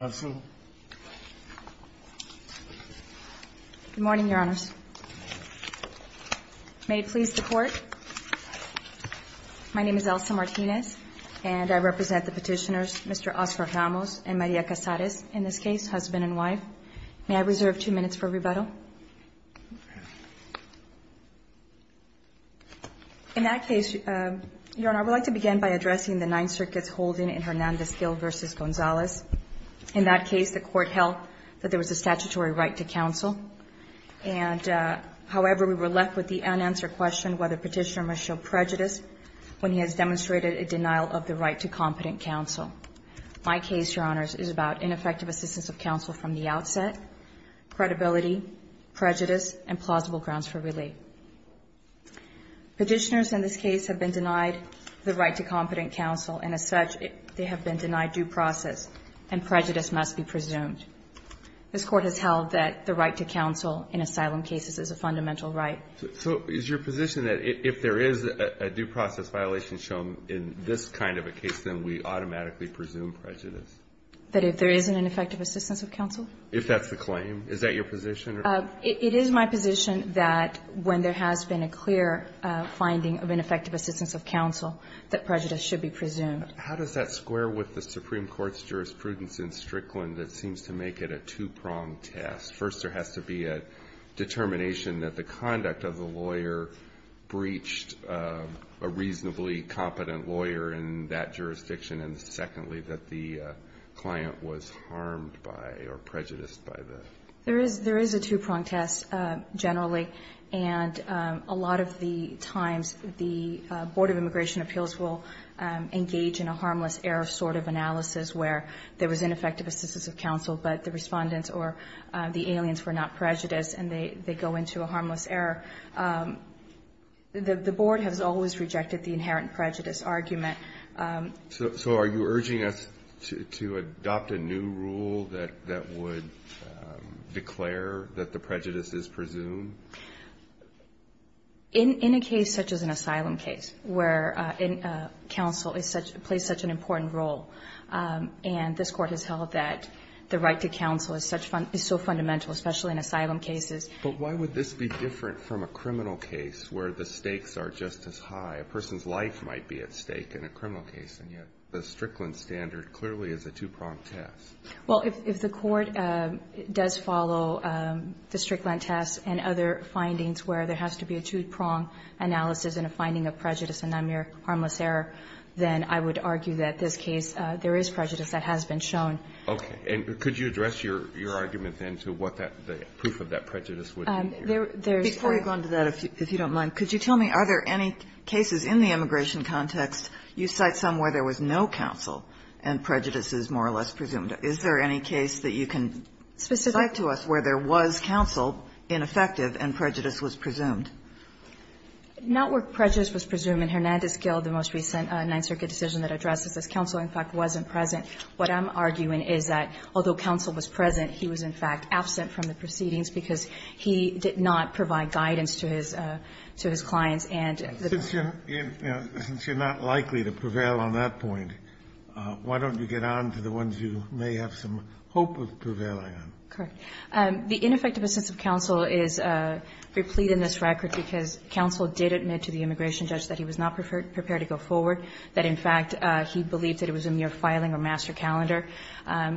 Good morning, Your Honors. May it please the Court, my name is Elsa Martinez and I represent the petitioners, Mr. Oscar Ramos and Maria Casares, in this case, husband and wife. May I reserve two minutes for rebuttal? In that case, Your Honor, I would like to begin by addressing the Ninth Circuit's holding in Hernandez-Gil v. Gonzalez. In that case, the Court held that there was a statutory right to counsel and, however, we were left with the unanswered question whether Petitioner must show prejudice when he has demonstrated a denial of the right to competent counsel. My case, Your Honors, is about ineffective assistance of counsel from the outset, credibility, prejudice, and plausible grounds for relief. Petitioners in this case have been denied the right to competent counsel and, as such, they have been denied due process and prejudice must be presumed. This Court has held that the right to counsel in asylum cases is a fundamental right. So is your position that if there is a due process violation shown in this kind of a case, then we automatically presume prejudice? That if there isn't an effective assistance of counsel? If that's the claim. Is that your position? It is my position that when there has been a clear finding of ineffective assistance of counsel, that prejudice should be presumed. How does that square with the Supreme Court's jurisprudence in Strickland that seems to make it a two-pronged test? First, there has to be a determination that the conduct of the lawyer breached a reasonably competent lawyer in that jurisdiction, and, secondly, that the client was harmed by or prejudiced by the? There is a two-pronged test generally, and a lot of the times the Board of Immigration Appeals will engage in a harmless error sort of analysis where there was ineffective assistance of counsel, but the respondents or the aliens were not prejudiced, and they go into a harmless error. The Board has always rejected the inherent prejudice argument. So are you urging us to adopt a new rule that would declare that the prejudice is presumed? In a case such as an asylum case where counsel plays such an important role, and this Court has held that the right to counsel is so fundamental, especially in asylum cases. But why would this be different from a criminal case where the stakes are just as high? A criminal case, and yet the Strickland standard clearly is a two-pronged test. Well, if the Court does follow the Strickland test and other findings where there has to be a two-pronged analysis and a finding of prejudice and not mere harmless error, then I would argue that this case, there is prejudice that has been shown. Okay. And could you address your argument then to what the proof of that prejudice would be? Before you go into that, if you don't mind, could you tell me, are there any cases in the immigration context, you cite some where there was no counsel and prejudice is more or less presumed? Is there any case that you can cite to us where there was counsel ineffective and prejudice was presumed? Not where prejudice was presumed. In Hernandez-Gil, the most recent Ninth Circuit decision that addresses this, counsel in fact wasn't present. What I'm arguing is that although counsel was present, he was in fact absent from the proceedings because he did not provide guidance to his clients and the court Since you're not likely to prevail on that point, why don't you get on to the ones you may have some hope of prevailing on? Correct. The ineffective assent of counsel is replete in this record because counsel did admit to the immigration judge that he was not prepared to go forward, that in fact he believed that it was a mere filing or master calendar.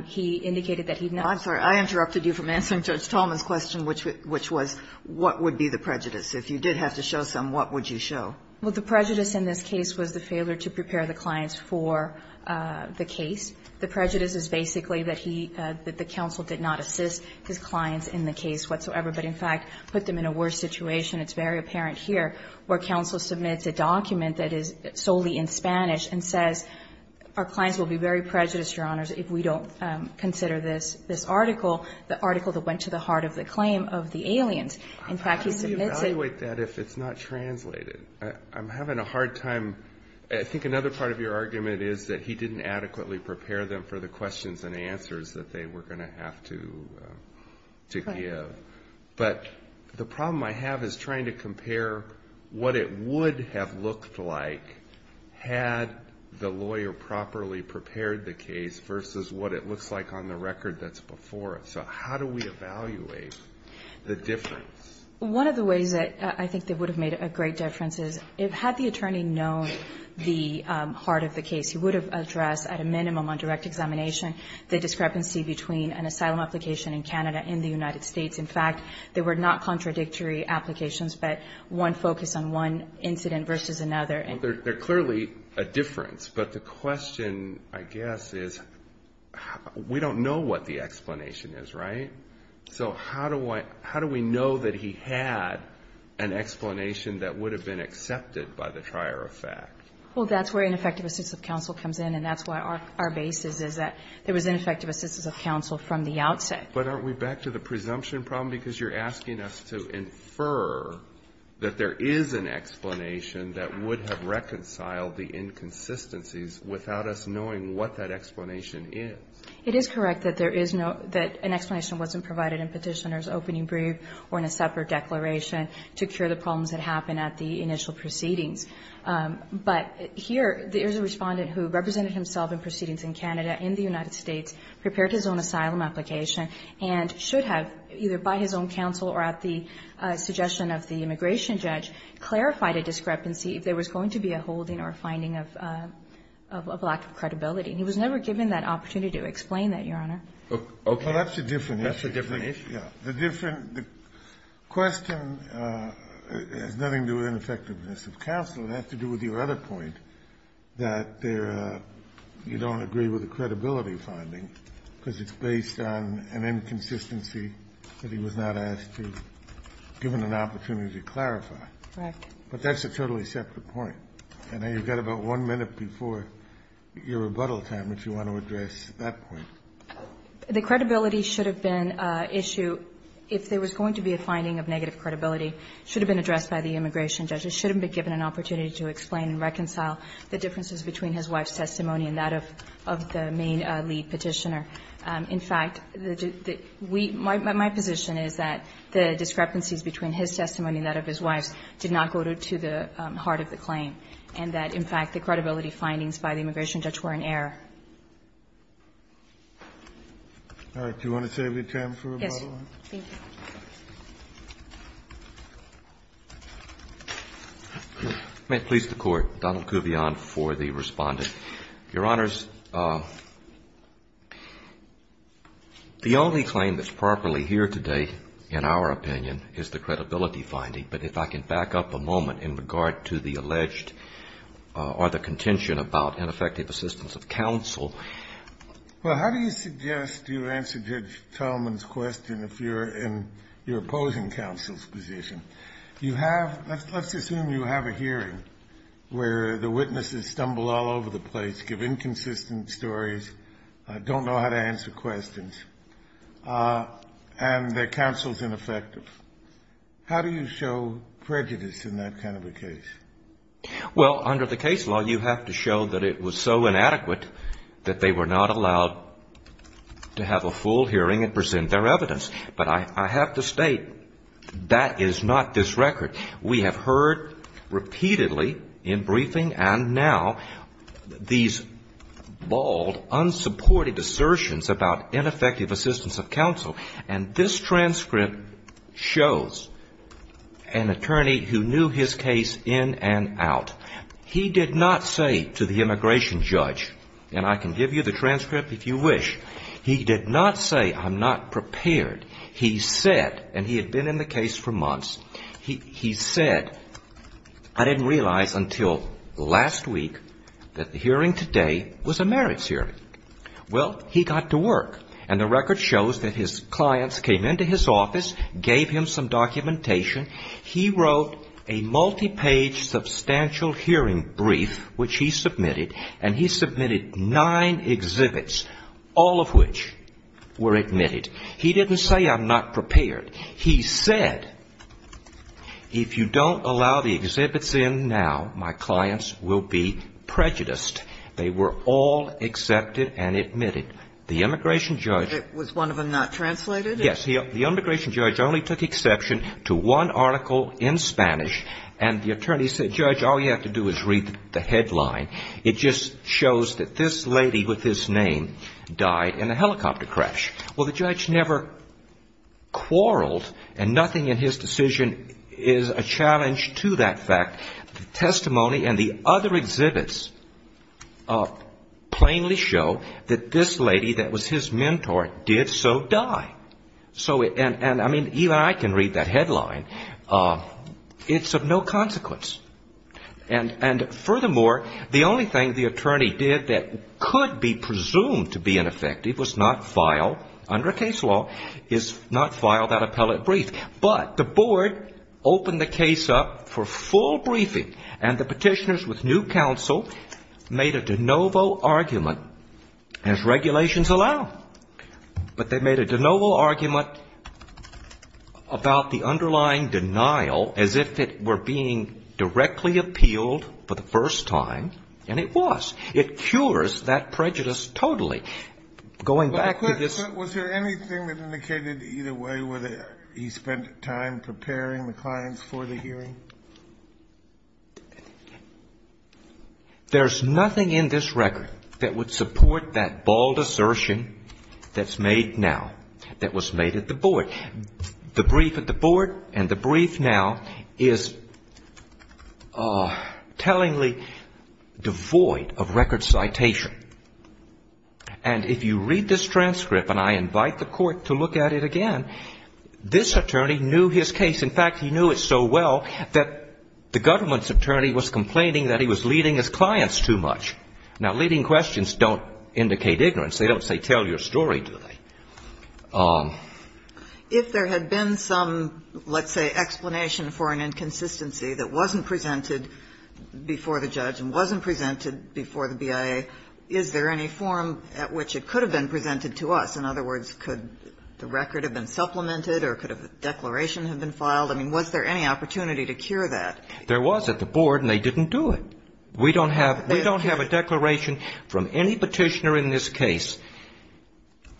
He indicated that he had not been present. I'm sorry. I interrupted you from answering Judge Tallman's question, which was what would be the prejudice. If you did have to show some, what would you show? Well, the prejudice in this case was the failure to prepare the clients for the case. The prejudice is basically that he, that the counsel did not assist his clients in the case whatsoever, but in fact put them in a worse situation. It's very apparent here where counsel submits a document that is solely in Spanish and says our clients will be very prejudiced, Your Honors, if we don't consider this article, the article that went to the heart of the claim of the aliens. In fact, he submits it. How do we evaluate that if it's not translated? I'm having a hard time. I think another part of your argument is that he didn't adequately prepare them for the questions and answers that they were going to have to give. But the problem I have is trying to compare what it would have looked like had the lawyer properly prepared the case versus what it looks like on the record that's before it. So how do we evaluate the difference? One of the ways that I think that would have made a great difference is if had the attorney known the heart of the case, he would have addressed at a minimum on direct examination the discrepancy between an asylum application in Canada and the United States. In fact, they were not contradictory applications, but one focused on one incident versus another. Well, they're clearly a difference. But the question, I guess, is we don't know what the explanation is, right? So how do we know that he had an explanation that would have been accepted by the trier of fact? Well, that's where ineffective assistance of counsel comes in, and that's why our basis is that there was ineffective assistance of counsel from the outset. But aren't we back to the presumption problem? Because you're asking us to infer that there is an explanation that would have reconciled the inconsistencies without us knowing what that explanation is. It is correct that there is no, that an explanation wasn't provided in petitioner's opening brief or in a separate declaration to cure the problems that happened at the initial proceedings. But here, there's a respondent who represented himself in proceedings in Canada, in the United States, prepared his own asylum application, and should have, either by his own counsel or at the suggestion of the immigration judge, clarified a discrepancy if there was going to be a holding or a finding of a lack of credibility. And he was never given that opportunity to explain that, Your Honor. Okay. That's a different issue. That's a different issue. Yes. The different question has nothing to do with ineffectiveness of counsel. It has to do with your other point, that there you don't agree with the credibility finding because it's based on an inconsistency that he was not asked to, given an opportunity to clarify. Correct. But that's a totally separate point. And then you've got about one minute before your rebuttal time, which you want to address at that point. The credibility should have been an issue, if there was going to be a finding of negative credibility, should have been addressed by the immigration judge. He shouldn't have been given an opportunity to explain and reconcile the differences between his wife's testimony and that of the main lead Petitioner. In fact, the we my position is that the discrepancies between his testimony and that, in fact, the credibility findings by the immigration judge were in error. All right. Do you want to save your time for rebuttal? Yes. Thank you. May it please the Court. Donald Kuvion for the Respondent. Your Honors, the only claim that's properly here today, in our opinion, is the credibility finding. But if I can back up a moment in regard to the alleged or the contention about ineffective assistance of counsel. Well, how do you suggest you answer Judge Talman's question if you're in your opposing counsel's position? You have, let's assume you have a hearing where the witnesses stumble all over the place, give inconsistent stories, don't know how to answer questions, and the counsel's ineffective. How do you show prejudice in that kind of a case? Well, under the case law, you have to show that it was so inadequate that they were not allowed to have a full hearing and present their evidence. But I have to state that is not this record. We have heard repeatedly in briefing and now these bald, unsupported assertions about ineffective assistance of counsel. And this transcript shows an attorney who knew his case in and out. He did not say to the immigration judge, and I can give you the transcript if you wish, he did not say, I'm not prepared. He said, and he had been in the case for months, he said, I didn't realize until last week that the hearing today was a marriage hearing. Well, he got to work, and the record shows that his clients came into his office, gave him some documentation, he wrote a multi-page substantial hearing brief, which he submitted, and he submitted nine exhibits, all of which were admitted. He didn't say, I'm not prepared. He said, if you don't allow the exhibits in now, my clients will be prejudiced. They were all accepted and admitted. The immigration judge. Was one of them not translated? Yes. The immigration judge only took exception to one article in Spanish, and the attorney said, judge, all you have to do is read the headline. It just shows that this lady with this name died in a helicopter crash. Well, the judge never quarreled, and nothing in his decision is a challenge to that fact. The testimony and the other exhibits plainly show that this lady that was his mentor did so die. So, and I mean, even I can read that headline. It's of no consequence. And furthermore, the only thing the attorney did that could be presumed to be ineffective was not file, under case law, is not file that appellate brief. But the board opened the case up for full briefing, and the petitioners with new counsel made a de novo argument, as regulations allow. But they made a de novo argument about the underlying denial as if it were being directly appealed for the first time, and it was. It cures that prejudice totally. Going back to this. Was there anything that indicated either way, whether he spent time preparing the clients for the hearing? There's nothing in this record that would support that bald assertion that's made now, that was made at the board. The brief at the board and the brief now is tellingly devoid of record citation. And if you read this transcript, and I invite the court to look at it again, this attorney knew his case. In fact, he knew it so well that the government's attorney was complaining that he was leading his clients too much. Now, leading questions don't indicate ignorance. They don't say, tell your story, do they? If there had been some, let's say, explanation for an inconsistency that wasn't presented before the judge and wasn't presented before the BIA, is there any form at which it could have been presented to us? In other words, could the record have been supplemented or could a declaration have been filed? I mean, was there any opportunity to cure that? There was at the board, and they didn't do it. We don't have a declaration from any Petitioner in this case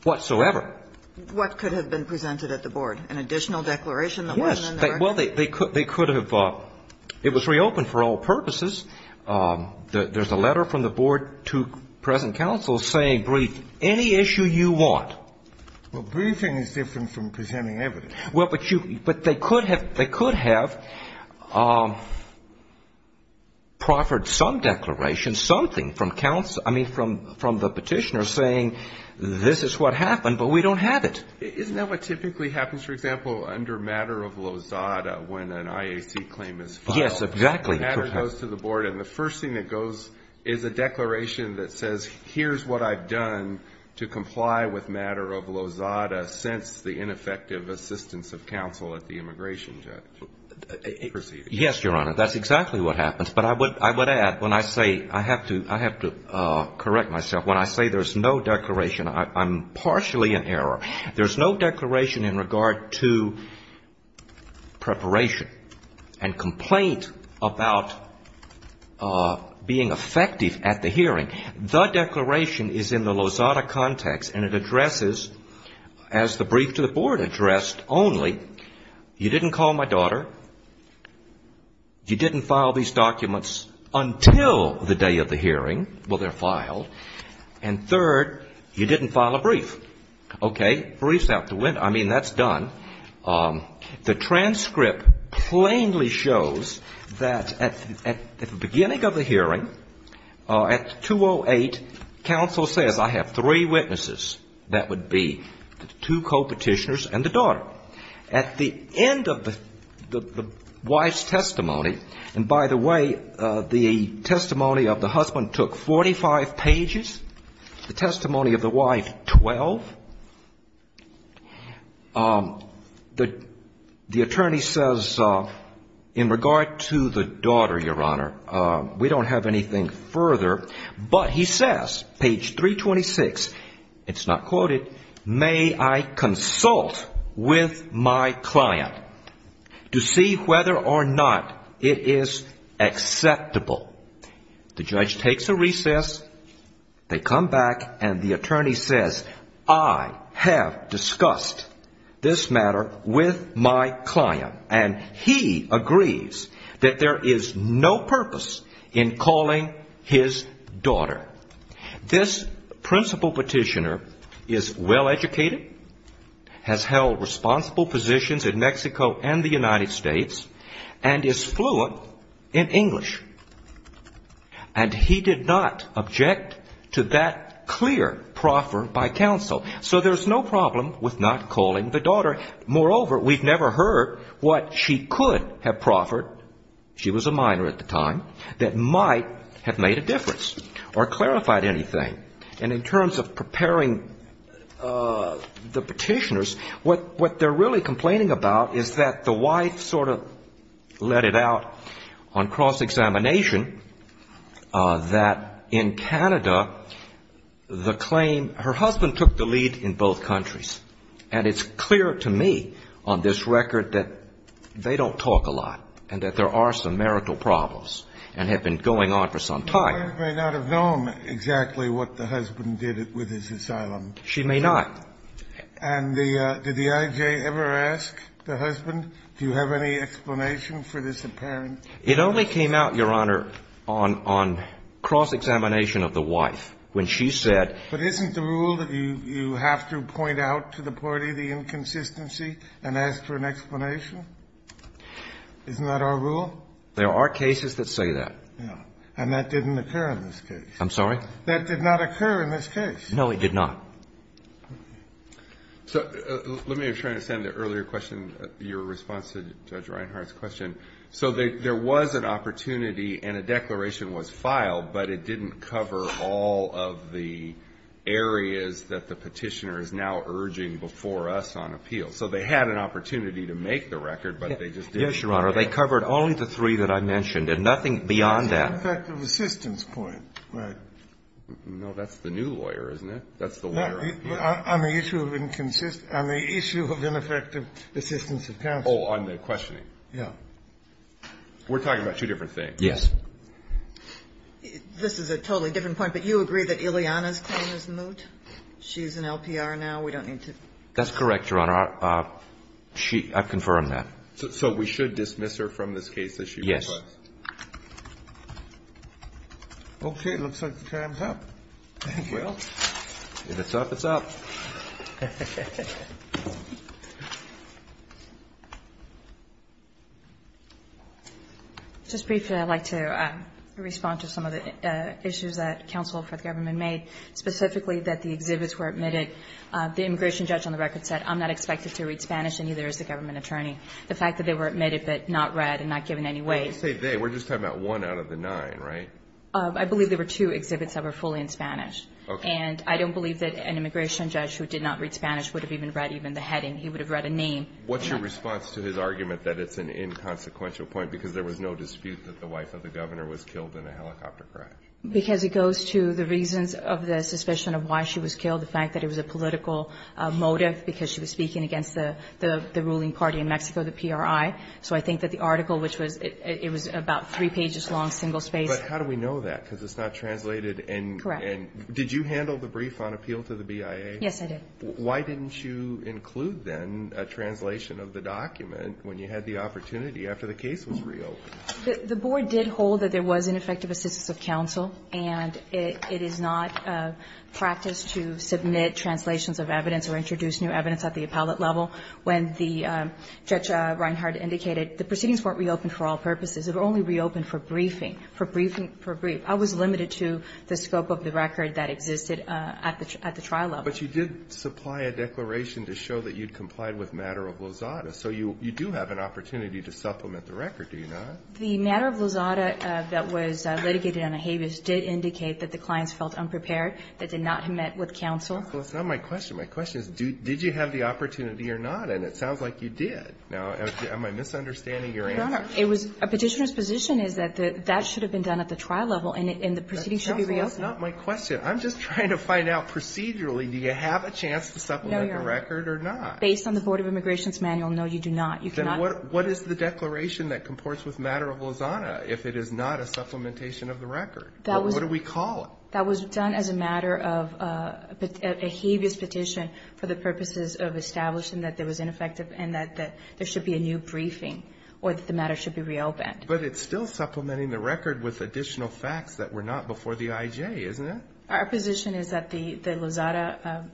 whatsoever. An additional declaration that wasn't in the record? Yes. Well, they could have. It was reopened for all purposes. There's a letter from the board to present counsel saying, brief any issue you want. Well, briefing is different from presenting evidence. Well, but they could have proffered some declaration, something from counsel, I mean, from the Petitioner saying, this is what happened, but we don't have it. Isn't that what typically happens, for example, under matter of lozada when an IAC claim is filed? Yes, exactly. Matter goes to the board, and the first thing that goes is a declaration that says, here's what I've done to comply with matter of lozada since the ineffective assistance of counsel at the immigration judge. Yes, Your Honor, that's exactly what happens. But I would add, when I say, I have to correct myself, when I say there's no declaration, I'm partially in error. There's no declaration in regard to preparation and complaint about being effective at the hearing. The declaration is in the lozada context, and it addresses, as the brief to the board addressed only, you didn't call my daughter, you didn't file these documents until the day of the hearing. Well, they're filed. Okay, briefs out the window. I mean, that's done. The transcript plainly shows that at the beginning of the hearing, at 208, counsel says, I have three witnesses, that would be the two co-petitioners and the daughter. At the end of the wife's testimony, and by the way, the testimony of the husband took 45 pages. The testimony of the wife, 12. The attorney says, in regard to the daughter, Your Honor, we don't have anything further. But he says, page 326, it's not quoted, may I consult with my client to see whether or not it is acceptable. The judge takes a recess. They come back, and the attorney says, I have discussed this matter with my client. And he agrees that there is no purpose in calling his daughter. This principal petitioner is well-educated, has held responsible positions in Mexico and the United States, and is fluent in English, and he did not object to that clear proffer by counsel. So there's no problem with not calling the daughter. Moreover, we've never heard what she could have proffered, she was a minor at the time, that might have made a difference or clarified anything. And in terms of preparing the petitioners, what they're really complaining about is that the wife sort of let it out on cross-examination that in Canada, the claim, her husband took the lead in both countries. And it's clear to me on this record that they don't talk a lot, and that there are some marital problems, and have been going on for some time. The wife may not have known exactly what the husband did with his asylum. She may not. And the did the I.J. ever ask the husband, do you have any explanation for this apparent It only came out, Your Honor, on cross-examination of the wife, when she said But isn't the rule that you have to point out to the party the inconsistency and ask for an explanation? Isn't that our rule? There are cases that say that. And that didn't occur in this case. I'm sorry? That did not occur in this case. No, it did not. So let me try to understand the earlier question, your response to Judge Reinhardt's question. So there was an opportunity and a declaration was filed, but it didn't cover all of the areas that the Petitioner is now urging before us on appeal. So they had an opportunity to make the record, but they just didn't. Yes, Your Honor. They covered only the three that I mentioned, and nothing beyond that. It's an effective assistance point, right? No, that's the new lawyer, isn't it? That's the lawyer on appeal. No, on the issue of inconsistent – on the issue of ineffective assistance of counsel. Oh, on the questioning. Yeah. We're talking about two different things. Yes. This is a totally different point, but you agree that Ileana's claim is moot? She's an LPR now. We don't need to – That's correct, Your Honor. She – I've confirmed that. So we should dismiss her from this case as she requests? Yes. Okay. It looks like the time's up. Thank you. If it's up, it's up. Just briefly, I'd like to respond to some of the issues that counsel for the government made, specifically that the exhibits were admitted. The immigration judge on the record said, I'm not expected to read Spanish and neither is the government attorney. The fact that they were admitted but not read and not given any weight – Well, you say they. We're just talking about one out of the nine, right? I believe there were two exhibits that were fully in Spanish. Okay. And I don't believe that an immigration judge who did not read Spanish would have even read even the heading. He would have read a name. What's your response to his argument that it's an inconsequential point because there was no dispute that the wife of the governor was killed in a helicopter crash? Because it goes to the reasons of the suspicion of why she was killed, the fact that it was a political motive because she was speaking against the ruling party in Mexico, the PRI. So I think that the article, which was – it was about three pages long, single-spaced. But how do we know that? Because it's not translated and – Correct. And did you handle the brief on appeal to the BIA? Yes, I did. Why didn't you include then a translation of the document when you had the opportunity after the case was reopened? The board did hold that there was ineffective assistance of counsel and it is not practice to submit translations of evidence or introduce new evidence at the appellate level. When the – Judge Reinhart indicated the proceedings weren't reopened for all purposes. It only reopened for briefing – for briefing – for brief. I was limited to the scope of the record that existed at the trial level. But you did supply a declaration to show that you'd complied with matter of Lozada. So you do have an opportunity to supplement the record, do you not? The matter of Lozada that was litigated on a habeas did indicate that the clients felt unprepared. They did not have met with counsel. Well, that's not my question. My question is did you have the opportunity or not? And it sounds like you did. Now, am I misunderstanding your answer? Your Honor, it was – a Petitioner's position is that that should have been done at the trial level and the proceedings should be reopened. That's not my question. I'm just trying to find out procedurally do you have a chance to supplement the record or not? Based on the Board of Immigration's manual, no, you do not. You cannot. Then what is the declaration that comports with matter of Lozada if it is not a supplementation of the record? What do we call it? That was done as a matter of a habeas petition for the purposes of establishing that there was ineffective and that there should be a new briefing or that the matter should be reopened. But it's still supplementing the record with additional facts that were not before the IJ, isn't it? Our position is that the Lozada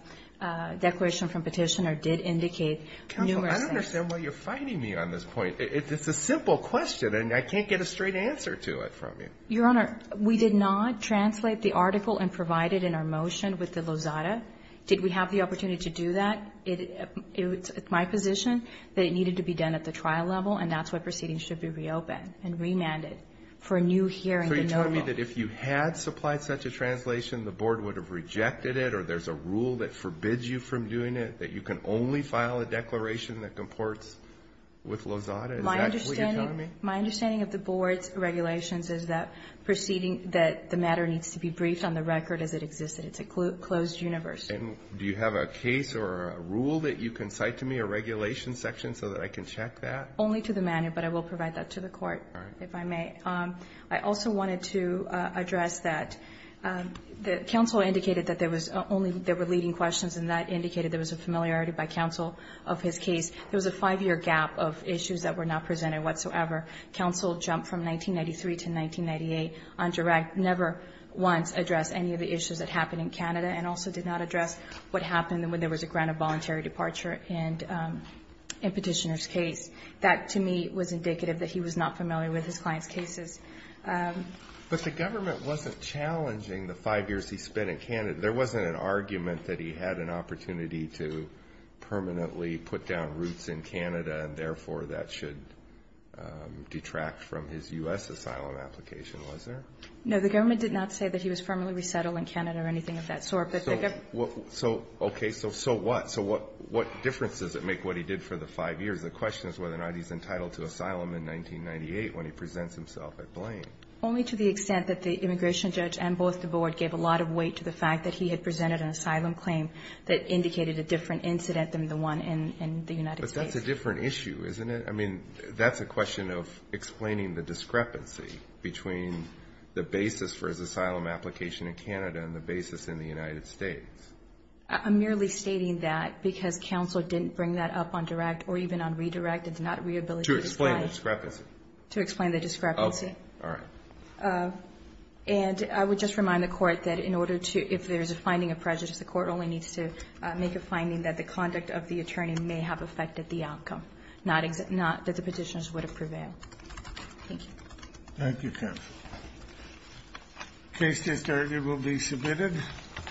declaration from Petitioner did indicate numerous facts. Counsel, I don't understand why you're fighting me on this point. It's a simple question and I can't get a straight answer to it from you. Your Honor, we did not translate the article and provide it in our motion with the Lozada. Did we have the opportunity to do that? It's my position that it needed to be done at the trial level and that's why proceedings should be reopened and remanded for a new hearing in November. So you're telling me that if you had supplied such a translation, the Board would have rejected it or there's a rule that forbids you from doing it, that you can only file a declaration that comports with Lozada? Is that what you're telling me? My understanding of the Board's regulations is that the matter needs to be briefed on the record as it existed. It's a closed universe. And do you have a case or a rule that you can cite to me, a regulation section, so that I can check that? Only to the manner, but I will provide that to the Court, if I may. I also wanted to address that. Counsel indicated that there were leading questions and that indicated there was a familiarity by counsel of his case. There was a five-year gap of issues that were not presented whatsoever. Counsel jumped from 1993 to 1998 on direct, never once addressed any of the issues that happened in Canada and also did not address what happened when there was a grant of voluntary departure in Petitioner's case. That, to me, was indicative that he was not familiar with his client's cases. But the government wasn't challenging the five years he spent in Canada. There wasn't an argument that he had an opportunity to permanently put down roots in Canada and, therefore, that should detract from his U.S. asylum application, was there? No, the government did not say that he was permanently resettled in Canada or anything of that sort. So, okay, so what? So what difference does it make what he did for the five years? The question is whether or not he's entitled to asylum in 1998 when he presents himself at Blaine. Only to the extent that the immigration judge and both the Board gave a lot of weight to the fact that he had presented an asylum claim that indicated a different incident than the one in the United States. But that's a different issue, isn't it? I mean, that's a question of explaining the discrepancy between the basis for his asylum application in Canada and the basis in the United States. I'm merely stating that because counsel didn't bring that up on direct or even on redirect. It's not rehabilitation. To explain the discrepancy. To explain the discrepancy. All right. And I would just remind the Court that in order to, if there's a finding of prejudice, the Court only needs to make a finding that the conduct of the attorney may have affected the outcome, not that the Petitioners would have prevailed. Thank you. Thank you, counsel. The case discharged will be submitted.